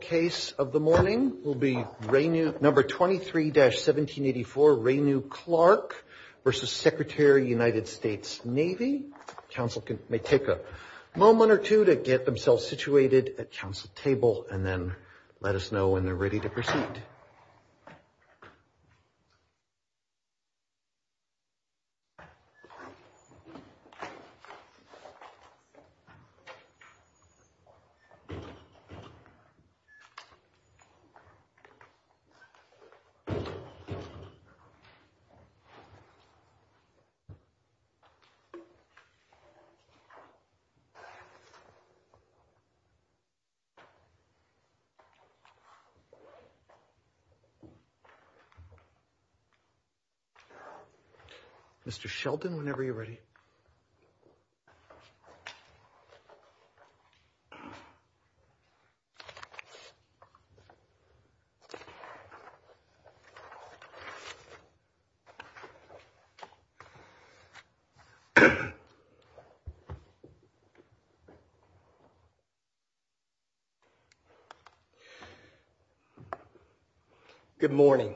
Navy. Council may take a moment or two to get themselves situated at council table and then let us know when they're ready to proceed. Okay. Okay. Okay. Mr. Sheldon, whenever you're ready. Good morning.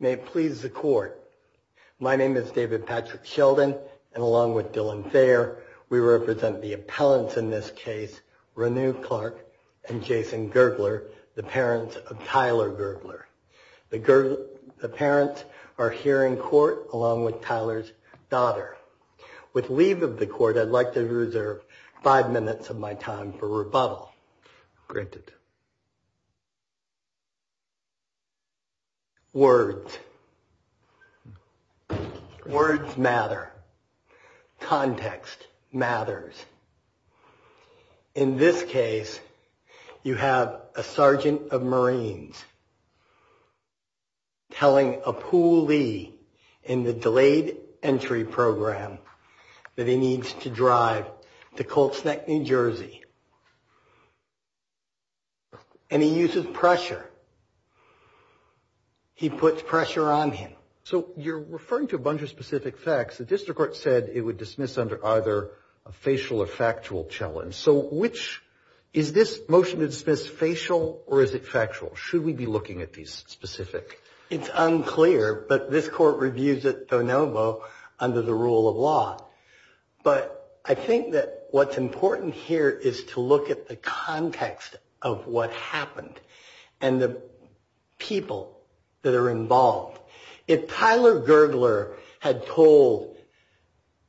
May it please the court. My name is David Patrick Sheldon and along with Dylan Thayer, we represent the appellants in this case, Renu Clark and Jason Gergler, the parents of Tyler Gergler. The parents are here in court along with Tyler's daughter. With leave of the court, I'd like to reserve five minutes of my time for rebuttal. Granted. Words. Words matter. Context matters. In this case, you have a sergeant of Marines telling a pulley in the delayed entry program that he needs to drive to Colts Neck, New Jersey. And he uses pressure. He puts pressure on him. So you're referring to a bunch of specific facts. The district court said it would dismiss under either a facial or factual challenge. So which is this motion to dismiss, facial or is it factual? Should we be looking at these specific? It's unclear, but this court reviews it de novo under the rule of law. But I think that what's important here is to look at the context of what happened and the people that are involved. If Tyler Gergler had told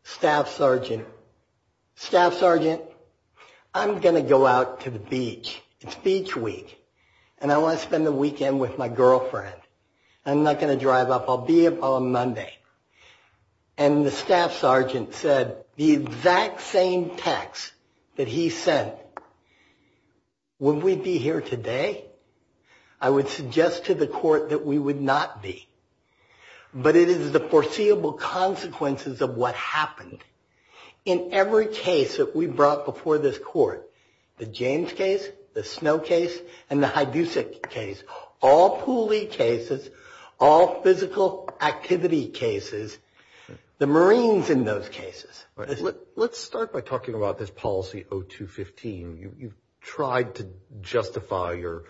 Staff Sergeant, Staff Sergeant, I'm going to go out to the beach. It's beach week and I want to spend the weekend with my girlfriend. I'm not going to drive up. I'll be up on Monday. And the Staff Sergeant said the exact same text that he sent. Would we be here today? I would suggest to the court that we would not be. But it is the foreseeable consequences of what happened. In every case that we brought before this court, the James case, the Snow case, and the Hidusic case, all poolie cases, all physical activity cases, the Marines in those cases. Let's start by talking about this policy O215. You tried to justify your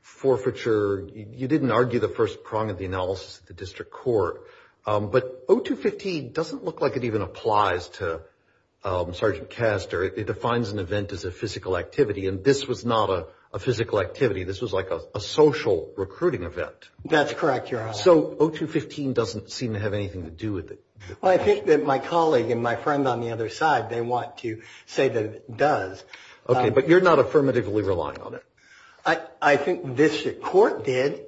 forfeiture. You didn't argue the first prong of the analysis at the district court. But O215 doesn't look like it even applies to Sergeant Castor. It defines an event as a physical activity. And this was not a physical activity. This was like a social recruiting event. That's correct, Your Honor. So O215 doesn't seem to have anything to do with it. I think that my colleague and my friend on the other side, they want to say that it does. Okay. But you're not affirmatively relying on it. I think this court did.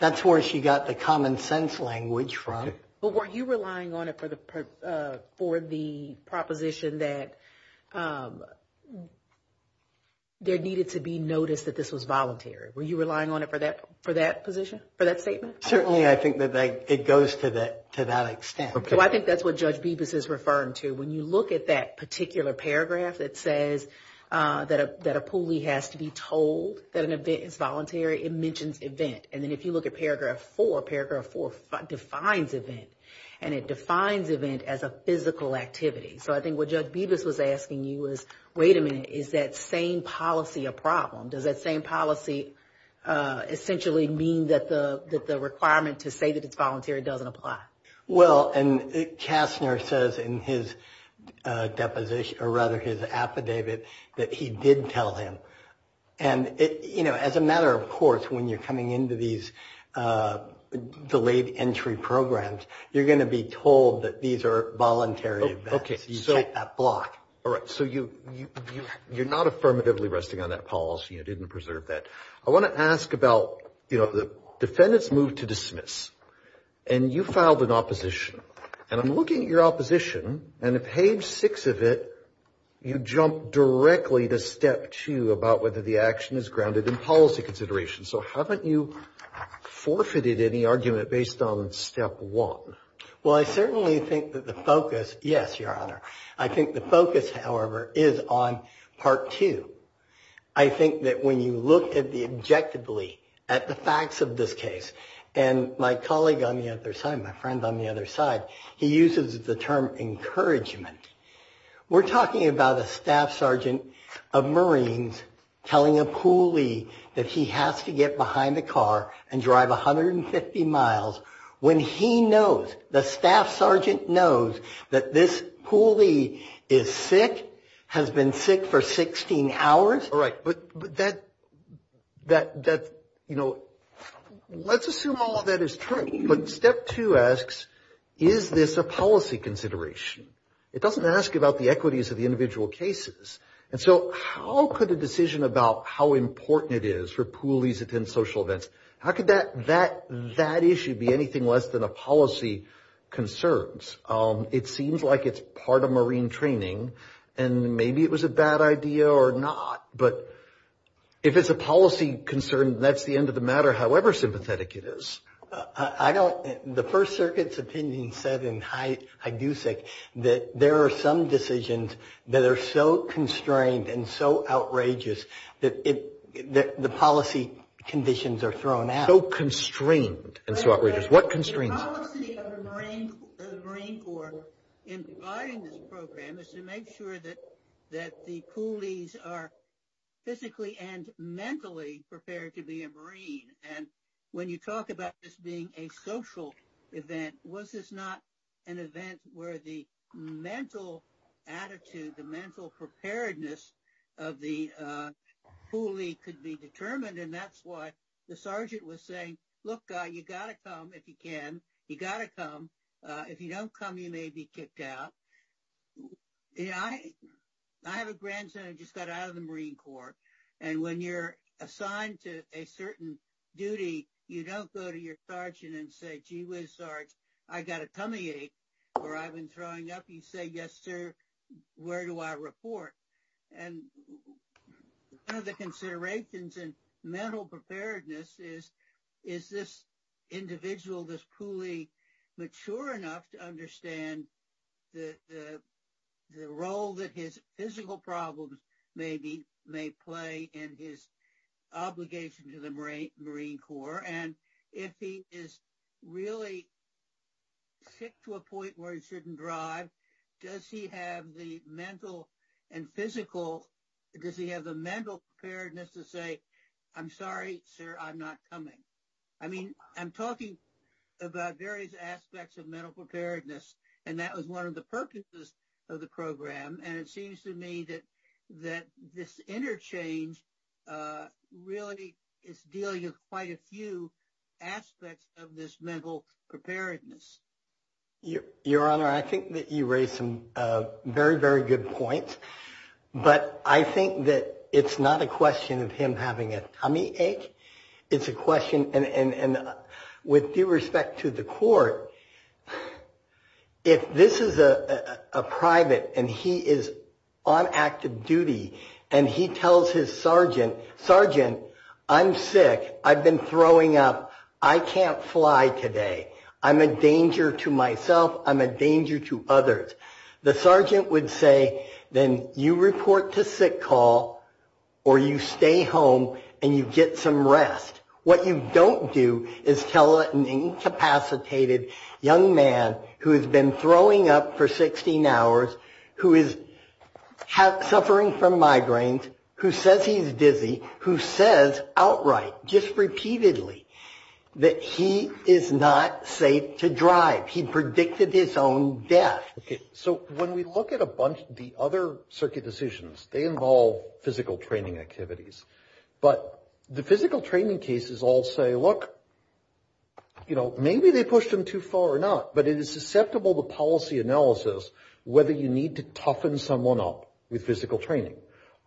That's where she got the common sense language from. But were you relying on it for the proposition that there needed to be notice that this was voluntary? Were you relying on it for that position, for that statement? Certainly, I think that it goes to that extent. Okay. Well, I think that's what Judge Bibas is referring to. When you look at that particular paragraph that says that a poolie has to be told that an event is voluntary, it mentions event. And then if you look at Paragraph 4, Paragraph 4 defines event. And it defines event as a physical activity. So I think what Judge Bibas was asking you was, wait a minute, is that same policy a problem? Does that same policy essentially mean that the requirement to say that it's voluntary doesn't apply? Well, and Castor says in his deposition, or rather his affidavit, that he did tell him. And, you know, as a matter of course, when you're coming into these delayed entry programs, you're going to be told that these are voluntary events. You set that block. All right. So you're not affirmatively resting on that policy. You didn't preserve that. I want to ask about, you know, the defendants moved to dismiss. And you filed an opposition. And I'm looking at your opposition. And at page 6 of it, you jump directly to Step 2 about whether the action is grounded in policy consideration. So haven't you forfeited any argument based on Step 1? Well, I certainly think that the focus, yes, Your Honor, I think the focus, however, is on Part 2. I think that when you look at the objectively, at the facts of this case, and my colleague on the other side, my friend on the other side, he uses the term encouragement. We're talking about a staff sergeant of Marines telling a pulley that he has to get behind a car and drive 150 miles when he knows, the staff sergeant knows, that this pulley is sick, has been sick for 16 hours. All right. But that, you know, let's assume all of that is true. But Step 2 asks, is this a policy consideration? It doesn't ask about the equities of the individual cases. And so how could a decision about how important it is for pulleys to attend social events, how could that issue be anything less than a policy concerns? It seems like it's part of Marine training, and maybe it was a bad idea or not, but if it's a policy concern, that's the end of the matter, however sympathetic it is. I don't, the First Circuit's opinion said, and I do think, that there are some decisions that are so constrained and so outrageous that the policy conditions are thrown out. So constrained and so outrageous. What constraints? The policy of the Marine Corps in providing this program is to make sure that the pulleys are physically and mentally prepared to be a Marine. And when you talk about this being a social event, was this not an event where the mental attitude, the mental preparedness of the pulley could be determined? And that's why the sergeant was saying, look, you got to come if you can. You got to come. If you don't come, you may be kicked out. I have a grandson who just got out of the Marine Corps, and when you're assigned to a certain duty, you don't go to your sergeant and say, gee whiz, Sarge, I got a tummy ache, or I've been throwing up. You say, yes, sir, where do I report? And one of the considerations in mental preparedness is, is this individual, this pulley, mature enough to understand the role that his physical problems may play in his obligation to the Marine Corps? And if he is really sick to a point where he shouldn't drive, does he have the mental and physical, does he have the mental preparedness to say, I'm sorry, sir, I'm not coming? I mean, I'm talking about various aspects of mental preparedness, and that was one of the purposes of the program. And it seems to me that this interchange really is dealing with quite a few aspects of this mental preparedness. Your Honor, I think that you raise some very, very good points, but I think that it's not a question of him having a tummy ache. It's a question, and with due respect to the court, if this is a private and he is on active duty and he tells his sergeant, sergeant, I'm sick, I've been throwing up, I can't fly today, I'm a danger to myself, I'm a danger to others. The sergeant would say, then you report to sick call or you stay home and you get some rest. What you don't do is tell an incapacitated young man who has been throwing up for 16 hours, who is suffering from migraines, who says he's dizzy, who says outright, just repeatedly, that he is not safe to drive. He predicted his own death. Okay. So when we look at a bunch of the other circuit decisions, they involve physical training activities. But the physical training cases all say, look, you know, maybe they pushed him too far or not, but it is susceptible to policy analysis whether you need to toughen someone up with physical training.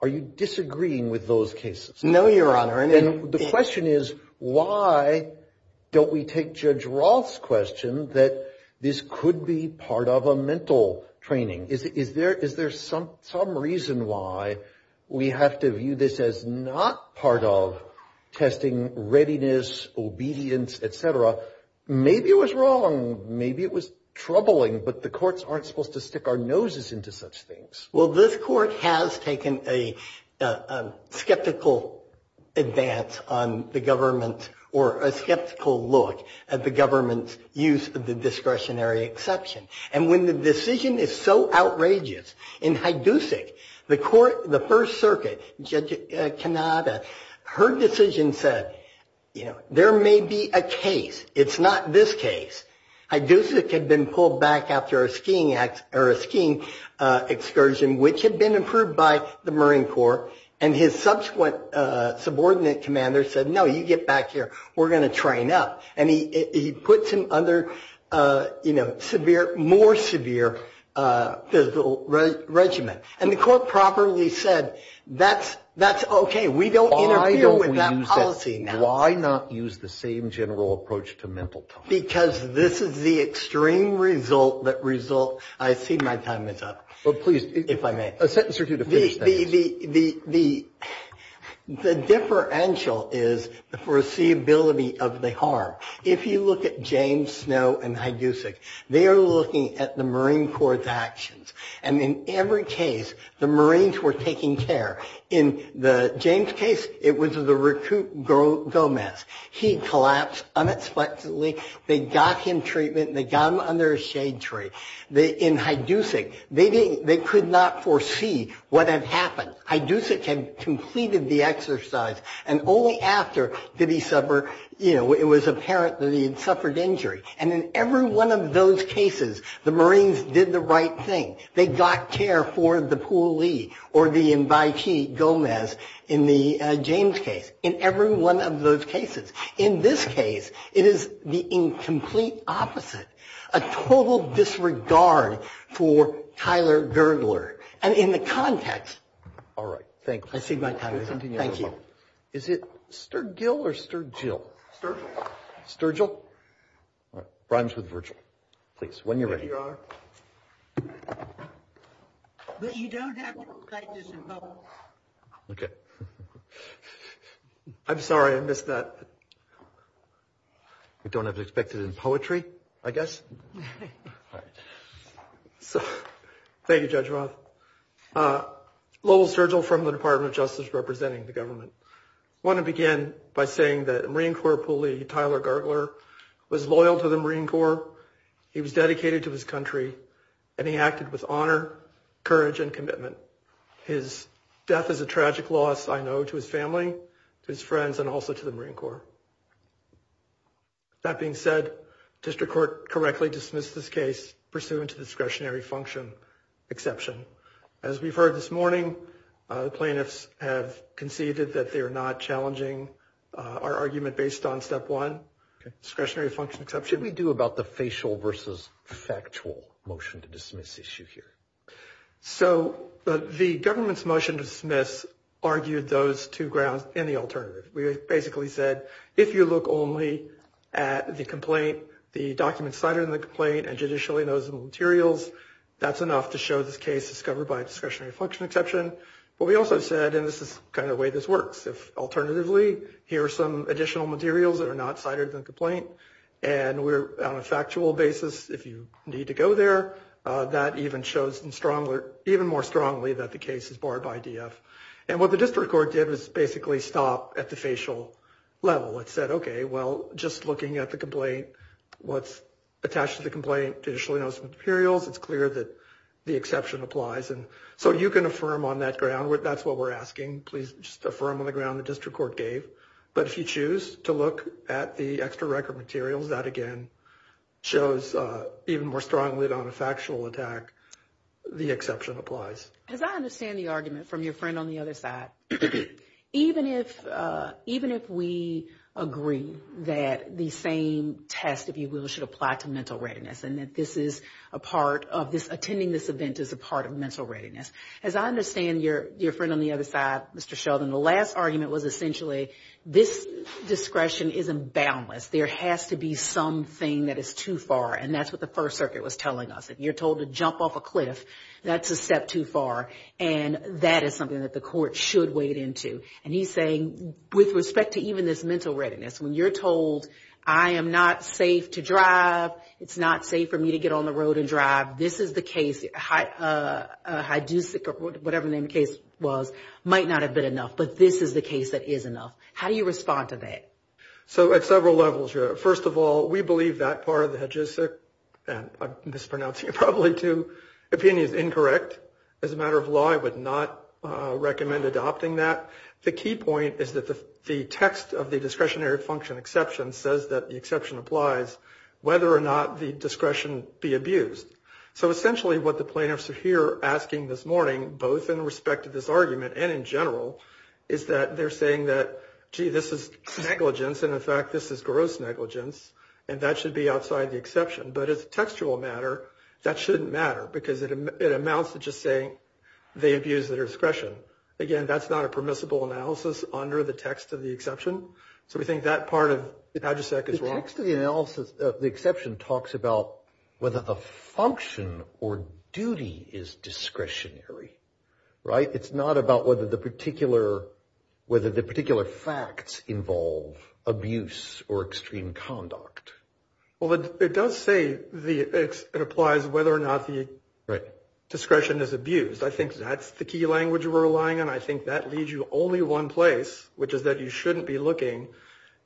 Are you disagreeing with those cases? No, Your Honor. And the question is, why don't we take Judge Roth's question that this could be part of a mental training? Is there some reason why we have to view this as not part of testing readiness, obedience, et cetera? Maybe it was wrong, maybe it was troubling, but the courts aren't supposed to stick our noses into such things. Well, this court has taken a skeptical advance on the government or a skeptical look at the government's use of the discretionary exception. And when the decision is so outrageous, in Hajducik, the first circuit, Judge Canada, her decision said, you know, there may be a case. It's not this case. Hajducik had been pulled back after a skiing excursion, which had been approved by the Marine Corps, and his subsequent subordinate commander said, no, you get back here, we're going to train up. And he puts him under, you know, severe, more severe physical regimen. And the court properly said, that's okay, we don't interfere with that policy now. Why not use the same general approach to mental time? Because this is the extreme result that results, I see my time is up, if I may. Well, please, a sentence or two to finish that. The differential is the foreseeability of the harm. If you look at James Snow and Hajducik, they are looking at the Marine Corps' actions. And in every case, the Marines were taking care. In the James case, it was the Recruit Gomez. He collapsed unexpectedly. They got him treatment and they got him under a shade tree. In Hajducik, they could not foresee what had happened. Hajducik had completed the exercise, and only after did he suffer, you know, it was apparent that he had suffered injury. And in every one of those cases, the Marines did the right thing. They got care for the pulley or the invitee Gomez in the James case. In every one of those cases. In this case, it is the incomplete opposite. A total disregard for Tyler Gergler. And in the context. All right. Thank you. I see my time is up. Thank you. Is it Sturgill or Sturgill? Sturgill. Sturgill? All right. Rhymes with Virgil. Please, when you're ready. Thank you, Your Honor. But you don't have to type this in public. Okay. I'm sorry. I missed that. We don't have to expect it in poetry, I guess. All right. Thank you, Judge Roth. Lowell Sturgill from the Department of Justice representing the government. I want to begin by saying that Marine Corps pulley Tyler Gergler was loyal to the Marine Corps. He was dedicated to his country, and he acted with honor, courage, and commitment. His death is a tragic loss, I know, to his family, to his friends, and also to the Marine Corps. That being said, district court correctly dismissed this case pursuant to discretionary function exception. As we've heard this morning, the plaintiffs have conceded that they are not challenging our argument based on step one, discretionary function exception. What should we do about the facial versus factual motion to dismiss issue here? So the government's motion to dismiss argued those two grounds in the alternative. We basically said if you look only at the complaint, the documents cited in the complaint, and judicially those materials, that's enough to show this case is covered by discretionary function exception. But we also said, and this is kind of the way this works, if alternatively here are some additional materials that are not cited in the complaint, and on a factual basis, if you need to go there, that even shows even more strongly that the case is barred by DF. And what the district court did was basically stop at the facial level. It said, okay, well, just looking at the complaint, what's attached to the complaint, judicially those materials, it's clear that the exception applies. And so you can affirm on that ground. That's what we're asking. Please just affirm on the ground the district court gave. But if you choose to look at the extra record materials, that again shows even more strongly on a factual attack, the exception applies. As I understand the argument from your friend on the other side, even if we agree that the same test, if you will, should apply to mental readiness, and that this is a part of this, attending this event is a part of mental readiness. As I understand your friend on the other side, Mr. Sheldon, the last argument was essentially this discretion isn't boundless. There has to be something that is too far. And that's what the First Circuit was telling us. If you're told to jump off a cliff, that's a step too far. And that is something that the court should wade into. And he's saying, with respect to even this mental readiness, when you're told I am not safe to drive, it's not safe for me to get on the road and drive, this is the case, HIDUCIC, or whatever the name of the case was, might not have been enough. But this is the case that is enough. How do you respond to that? So at several levels, first of all, we believe that part of the HIDUCIC, and I'm mispronouncing it probably too, opinion is incorrect. As a matter of law, I would not recommend adopting that. The key point is that the text of the discretionary function exception says that the exception applies whether or not the discretion be abused. So essentially what the plaintiffs are here asking this morning, both in respect to this argument and in general, is that they're saying that, gee, this is negligence, and in fact this is gross negligence, and that should be outside the exception. But as a textual matter, that shouldn't matter because it amounts to just saying they abuse their discretion. Again, that's not a permissible analysis under the text of the exception. So we think that part of HIDUCIC is wrong. The text of the exception talks about whether the function or duty is discretionary, right? It's not about whether the particular facts involve abuse or extreme conduct. Well, it does say it applies whether or not the discretion is abused. I think that's the key language we're relying on. And I think that leaves you only one place, which is that you shouldn't be looking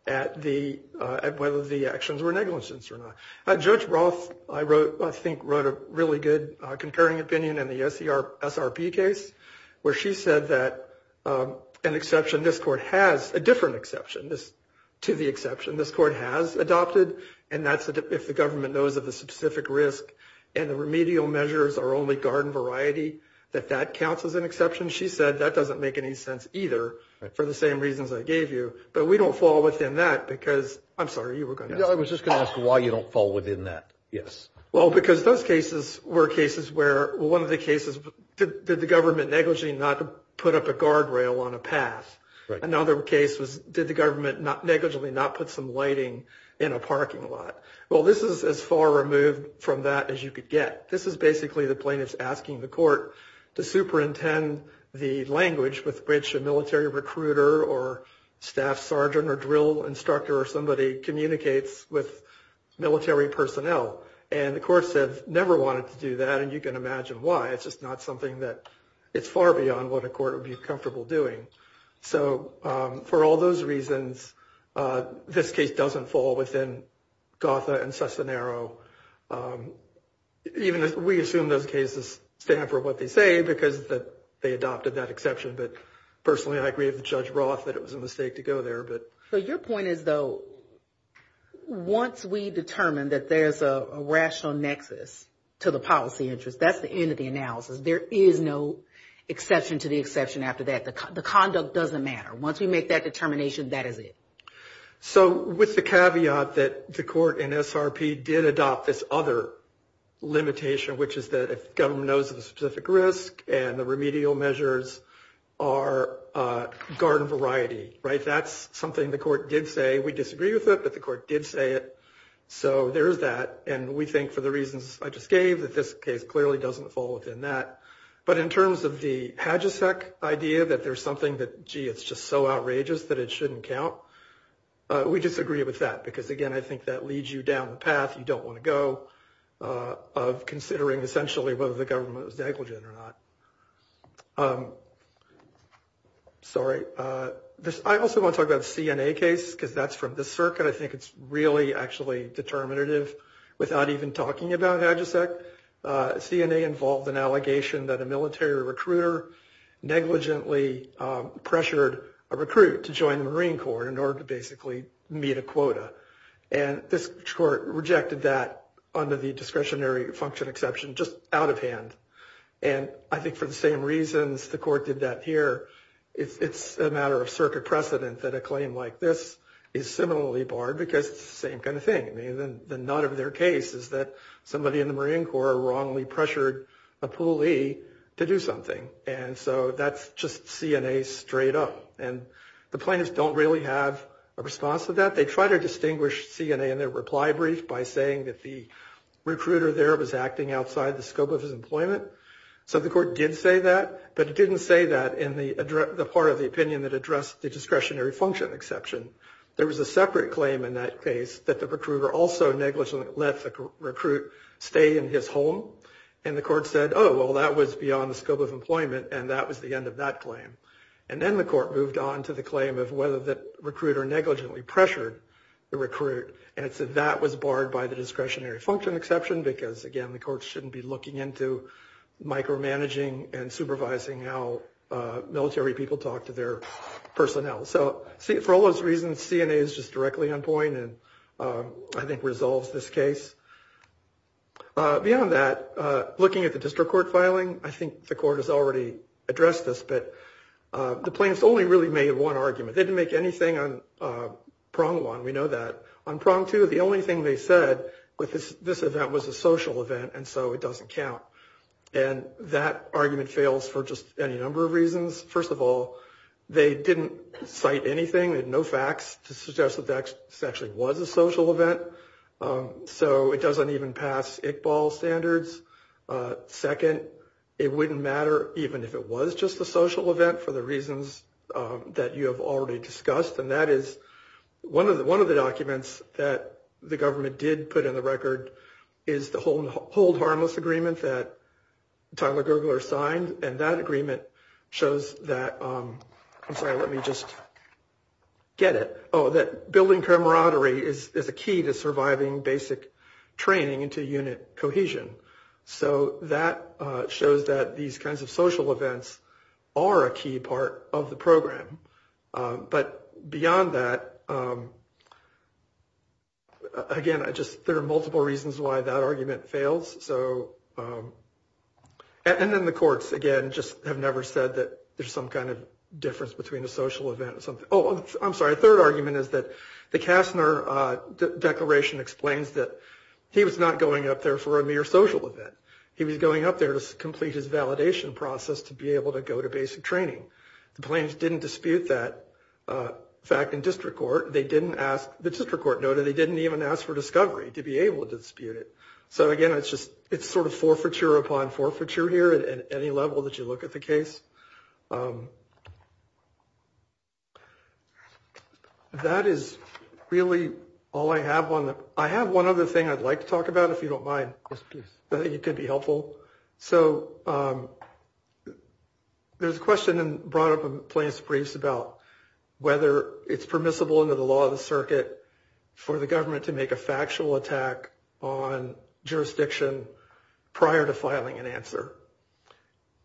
at whether the actions were negligence or not. Judge Roth, I think, wrote a really good concurring opinion in the SRP case where she said that an exception, this Court has a different exception to the exception this Court has adopted, and that's if the government knows of the specific risk and the remedial measures are only garden variety, that that counts as an exception. She said that doesn't make any sense either for the same reasons I gave you. But we don't fall within that because – I'm sorry, you were going to ask. I was just going to ask why you don't fall within that, yes. Well, because those cases were cases where one of the cases, did the government negligently not put up a guardrail on a path? Right. Another case was did the government negligently not put some lighting in a parking lot? Well, this is as far removed from that as you could get. This is basically the plaintiff asking the court to superintend the language with which a military recruiter or staff sergeant or drill instructor or somebody communicates with military personnel. And the court said never wanted to do that, and you can imagine why. It's just not something that – it's far beyond what a court would be comfortable doing. So for all those reasons, this case doesn't fall within Gotha and Cesenero. We assume those cases stand for what they say because they adopted that exception. But personally, I agree with Judge Roth that it was a mistake to go there. So your point is, though, once we determine that there's a rational nexus to the policy interest, that's the end of the analysis. There is no exception to the exception after that. The conduct doesn't matter. Once we make that determination, that is it. So with the caveat that the court in SRP did adopt this other limitation, which is that if government knows of a specific risk and the remedial measures are garden variety, right, that's something the court did say. We disagree with it, but the court did say it. So there is that, and we think for the reasons I just gave that this case clearly doesn't fall within that. But in terms of the HGSEC idea that there's something that, gee, it's just so outrageous that it shouldn't count, we disagree with that because, again, I think that leads you down the path you don't want to go, of considering essentially whether the government was negligent or not. Sorry. I also want to talk about the CNA case because that's from the circuit. I think it's really actually determinative without even talking about HGSEC. CNA involved an allegation that a military recruiter negligently pressured a recruit to join the Marine Corps in order to basically meet a quota, and this court rejected that under the discretionary function exception just out of hand. And I think for the same reasons the court did that here, it's a matter of circuit precedent that a claim like this is similarly barred because it's the same kind of thing. I mean, the nut of their case is that somebody in the Marine Corps wrongly pressured a pulley to do something, and so that's just CNA straight up. And the plaintiffs don't really have a response to that. They try to distinguish CNA in their reply brief by saying that the recruiter there was acting outside the scope of his employment. So the court did say that, but it didn't say that in the part of the opinion that addressed the discretionary function exception. There was a separate claim in that case that the recruiter also negligently let the recruit stay in his home, and the court said, oh, well, that was beyond the scope of employment, and that was the end of that claim. And then the court moved on to the claim of whether the recruiter negligently pressured the recruit, and it said that was barred by the discretionary function exception because, again, the court shouldn't be looking into micromanaging and supervising how military people talk to their personnel. So for all those reasons, CNA is just directly on point and I think resolves this case. Beyond that, looking at the district court filing, I think the court has already addressed this, but the plaintiffs only really made one argument. They didn't make anything on prong one. We know that. On prong two, the only thing they said with this event was a social event, and so it doesn't count. And that argument fails for just any number of reasons. First of all, they didn't cite anything, no facts to suggest that this actually was a social event, so it doesn't even pass ICBAL standards. Second, it wouldn't matter even if it was just a social event for the reasons that you have already discussed, and that is one of the documents that the government did put in the record is the Hold Harmless Agreement that Tyler Gergler signed, and that agreement shows that building camaraderie is a key to surviving basic training into unit cohesion. So that shows that these kinds of social events are a key part of the program. But beyond that, again, there are multiple reasons why that argument fails. And then the courts, again, just have never said that there's some kind of difference between a social event and something else. Oh, I'm sorry. A third argument is that the Kastner Declaration explains that he was not going up there for a mere social event. He was going up there to complete his validation process to be able to go to basic training. The plaintiffs didn't dispute that fact in district court. The district court noted they didn't even ask for discovery to be able to dispute it. So, again, it's sort of forfeiture upon forfeiture here at any level that you look at the case. That is really all I have. I have one other thing I'd like to talk about, if you don't mind. Yes, please. You could be helpful. So there's a question brought up in plaintiff's briefs about whether it's permissible under the law of the circuit for the government to make a factual attack on jurisdiction prior to filing an answer.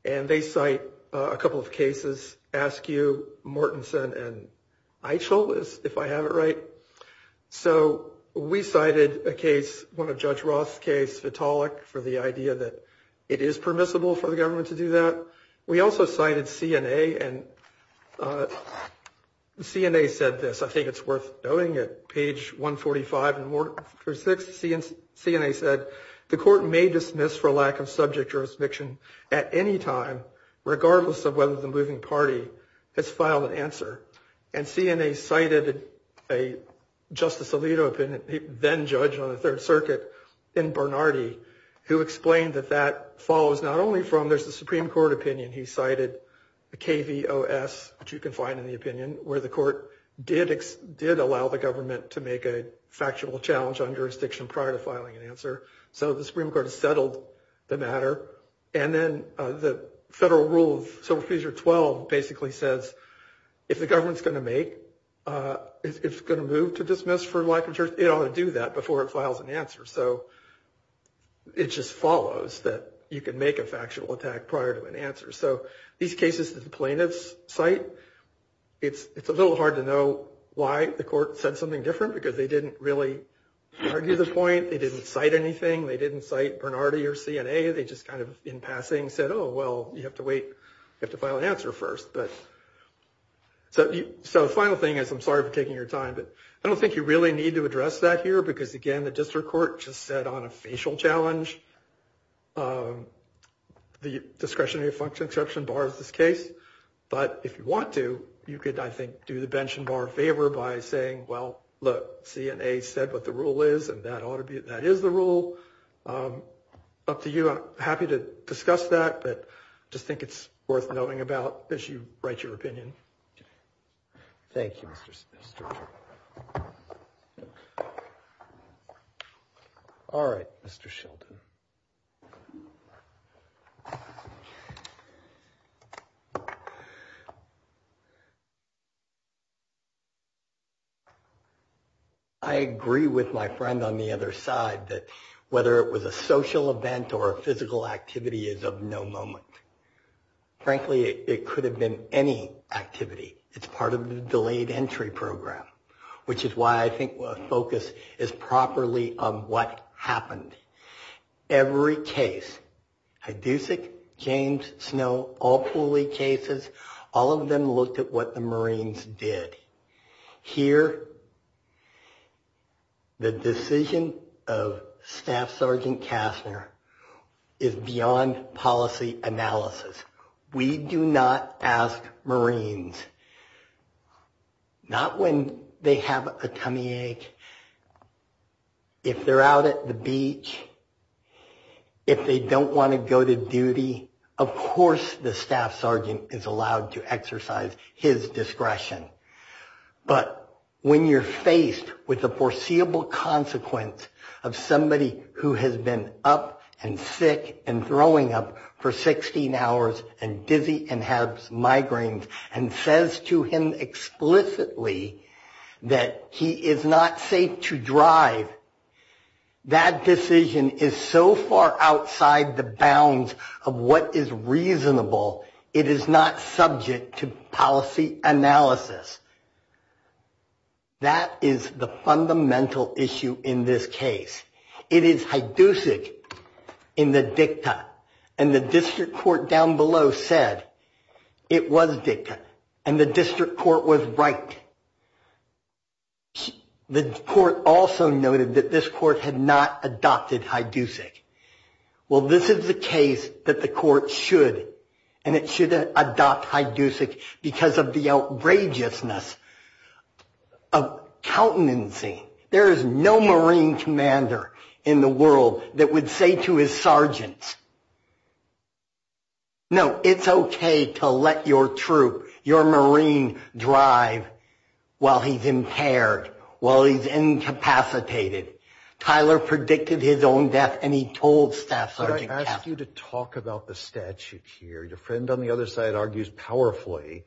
And they cite a couple of cases, Askew, Mortenson, and Eichel, if I have it right. So we cited a case, one of Judge Roth's case, Vitalik, for the idea that it is permissible for the government to do that. We also cited CNA. And CNA said this. I think it's worth noting it. Page 145 and 146, CNA said the court may dismiss for lack of subject jurisdiction at any time, regardless of whether the moving party has filed an answer. And CNA cited a Justice Alito, then judge on the Third Circuit in Bernardi, who explained that that follows not only from, there's a Supreme Court opinion he cited, the KVOS, which you can find in the opinion, where the court did allow the government to make a factual challenge on jurisdiction prior to filing an answer. So the Supreme Court has settled the matter. And then the Federal Rule of Civil Procedure 12 basically says if the government's going to make, if it's going to move to dismiss for lack of jurisdiction, it ought to do that before it files an answer. So it just follows that you can make a factual attack prior to an answer. So these cases that the plaintiffs cite, it's a little hard to know why the court said something different, because they didn't really argue the point. They didn't cite anything. They didn't cite Bernardi or CNA. They just kind of in passing said, oh, well, you have to wait. You have to file an answer first. So the final thing is, I'm sorry for taking your time, but I don't think you really need to address that here, because, again, the district court just said on a facial challenge the discretionary function exception bar is this case. But if you want to, you could, I think, do the bench and bar favor by saying, well, look, CNA said what the rule is, and that is the rule. Up to you. I'm happy to discuss that, but I just think it's worth noting about as you write your opinion. Thank you, Mr. Sheldon. All right, Mr. Sheldon. I agree with my friend on the other side that whether it was a social event or a physical activity is of no moment. Frankly, it could have been any activity. It's part of the delayed entry program, which is why I think a focus is properly on what happened. Every case, Hidusic, James, Snow, all Pooley cases, all of them looked at what the Marines did. Here, the decision of Staff Sergeant Kastner is beyond policy analysis. We do not ask Marines, not when they have a tummy ache, if they're out at the beach, if they don't want to go to duty. Of course the Staff Sergeant is allowed to exercise his discretion. But when you're faced with the foreseeable consequence of somebody who has been up and sick and throwing up for 16 hours and dizzy and has migraines and says to him explicitly that he is not safe to drive, that decision is so far outside the bounds of what is reasonable, it is not subject to policy analysis. That is the fundamental issue in this case. It is Hidusic in the dicta. And the district court down below said it was dicta. And the district court was right. The court also noted that this court had not adopted Hidusic. Well, this is the case that the court should, and it should adopt Hidusic because of the outrageousness of countenancy. There is no Marine commander in the world that would say to his sergeants, No, it's okay to let your troop, your Marine drive while he's impaired, while he's incapacitated. Tyler predicted his own death, and he told Staff Sergeant Kaplan. Can I ask you to talk about the statute here? Your friend on the other side argues powerfully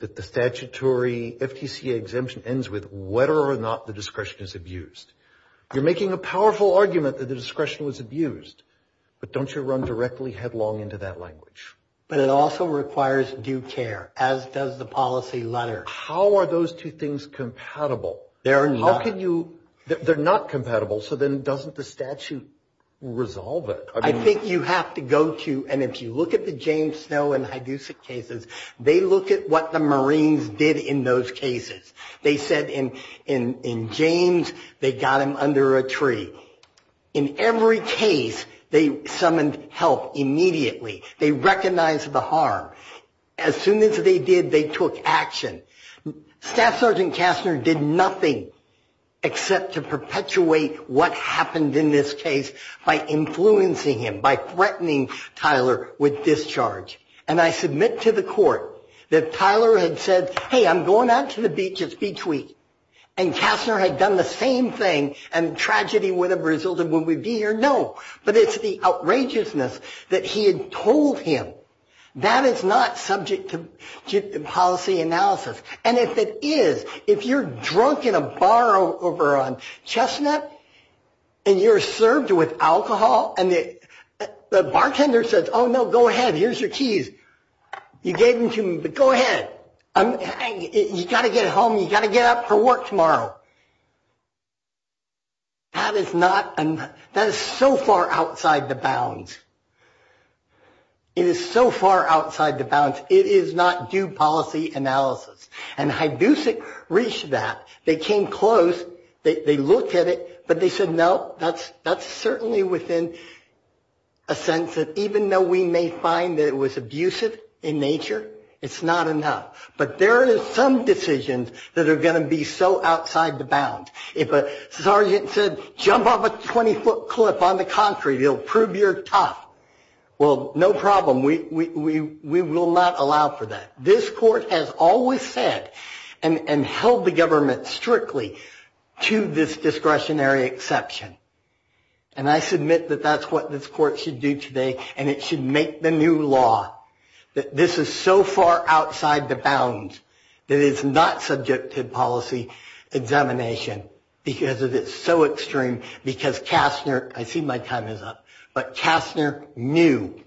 that the statutory FTCA exemption ends with whether or not the discretion is abused. You're making a powerful argument that the discretion was abused. But don't you run directly headlong into that language. But it also requires due care, as does the policy letter. How are those two things compatible? They're not. How can you, they're not compatible, so then doesn't the statute resolve it? I think you have to go to, and if you look at the James Snow and Hidusic cases, they look at what the Marines did in those cases. They said in James, they got him under a tree. In every case, they summoned help immediately. They recognized the harm. As soon as they did, they took action. Staff Sergeant Kastner did nothing except to perpetuate what happened in this case by influencing him, by threatening Tyler with discharge. And I submit to the court that Tyler had said, Hey, I'm going out to the beach, it's beach week. And Kastner had done the same thing, and tragedy would have resulted when we'd be here. No, but it's the outrageousness that he had told him. That is not subject to policy analysis. And if it is, if you're drunk in a bar over on Chestnut, and you're served with alcohol, and the bartender says, Oh, no, go ahead, here's your keys. You gave them to him, but go ahead. You got to get home. You got to get up for work tomorrow. That is so far outside the bounds. It is so far outside the bounds. It is not due policy analysis. And Hidusic reached that. They came close. They looked at it, but they said, No, that's certainly within a sense that even though we may find that it was abusive in nature, it's not enough. But there is some decisions that are going to be so outside the bounds. If a sergeant said, Jump off a 20-foot cliff on the concrete, it'll prove you're tough. Well, no problem. We will not allow for that. This court has always said and held the government strictly to this discretionary exception. And I submit that that's what this court should do today, and it should make the new law. This is so far outside the bounds that it's not subject to policy examination because it is so extreme. Because Kastner, I see my time is up, but Kastner knew.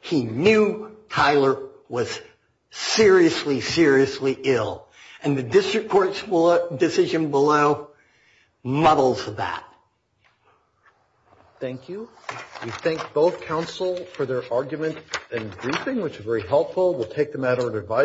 He knew Tyler was seriously, seriously ill. And the district court's decision below muddles that. Thank you. We thank both counsel for their argument and briefing, which is very helpful. We'll take the matter into advisory.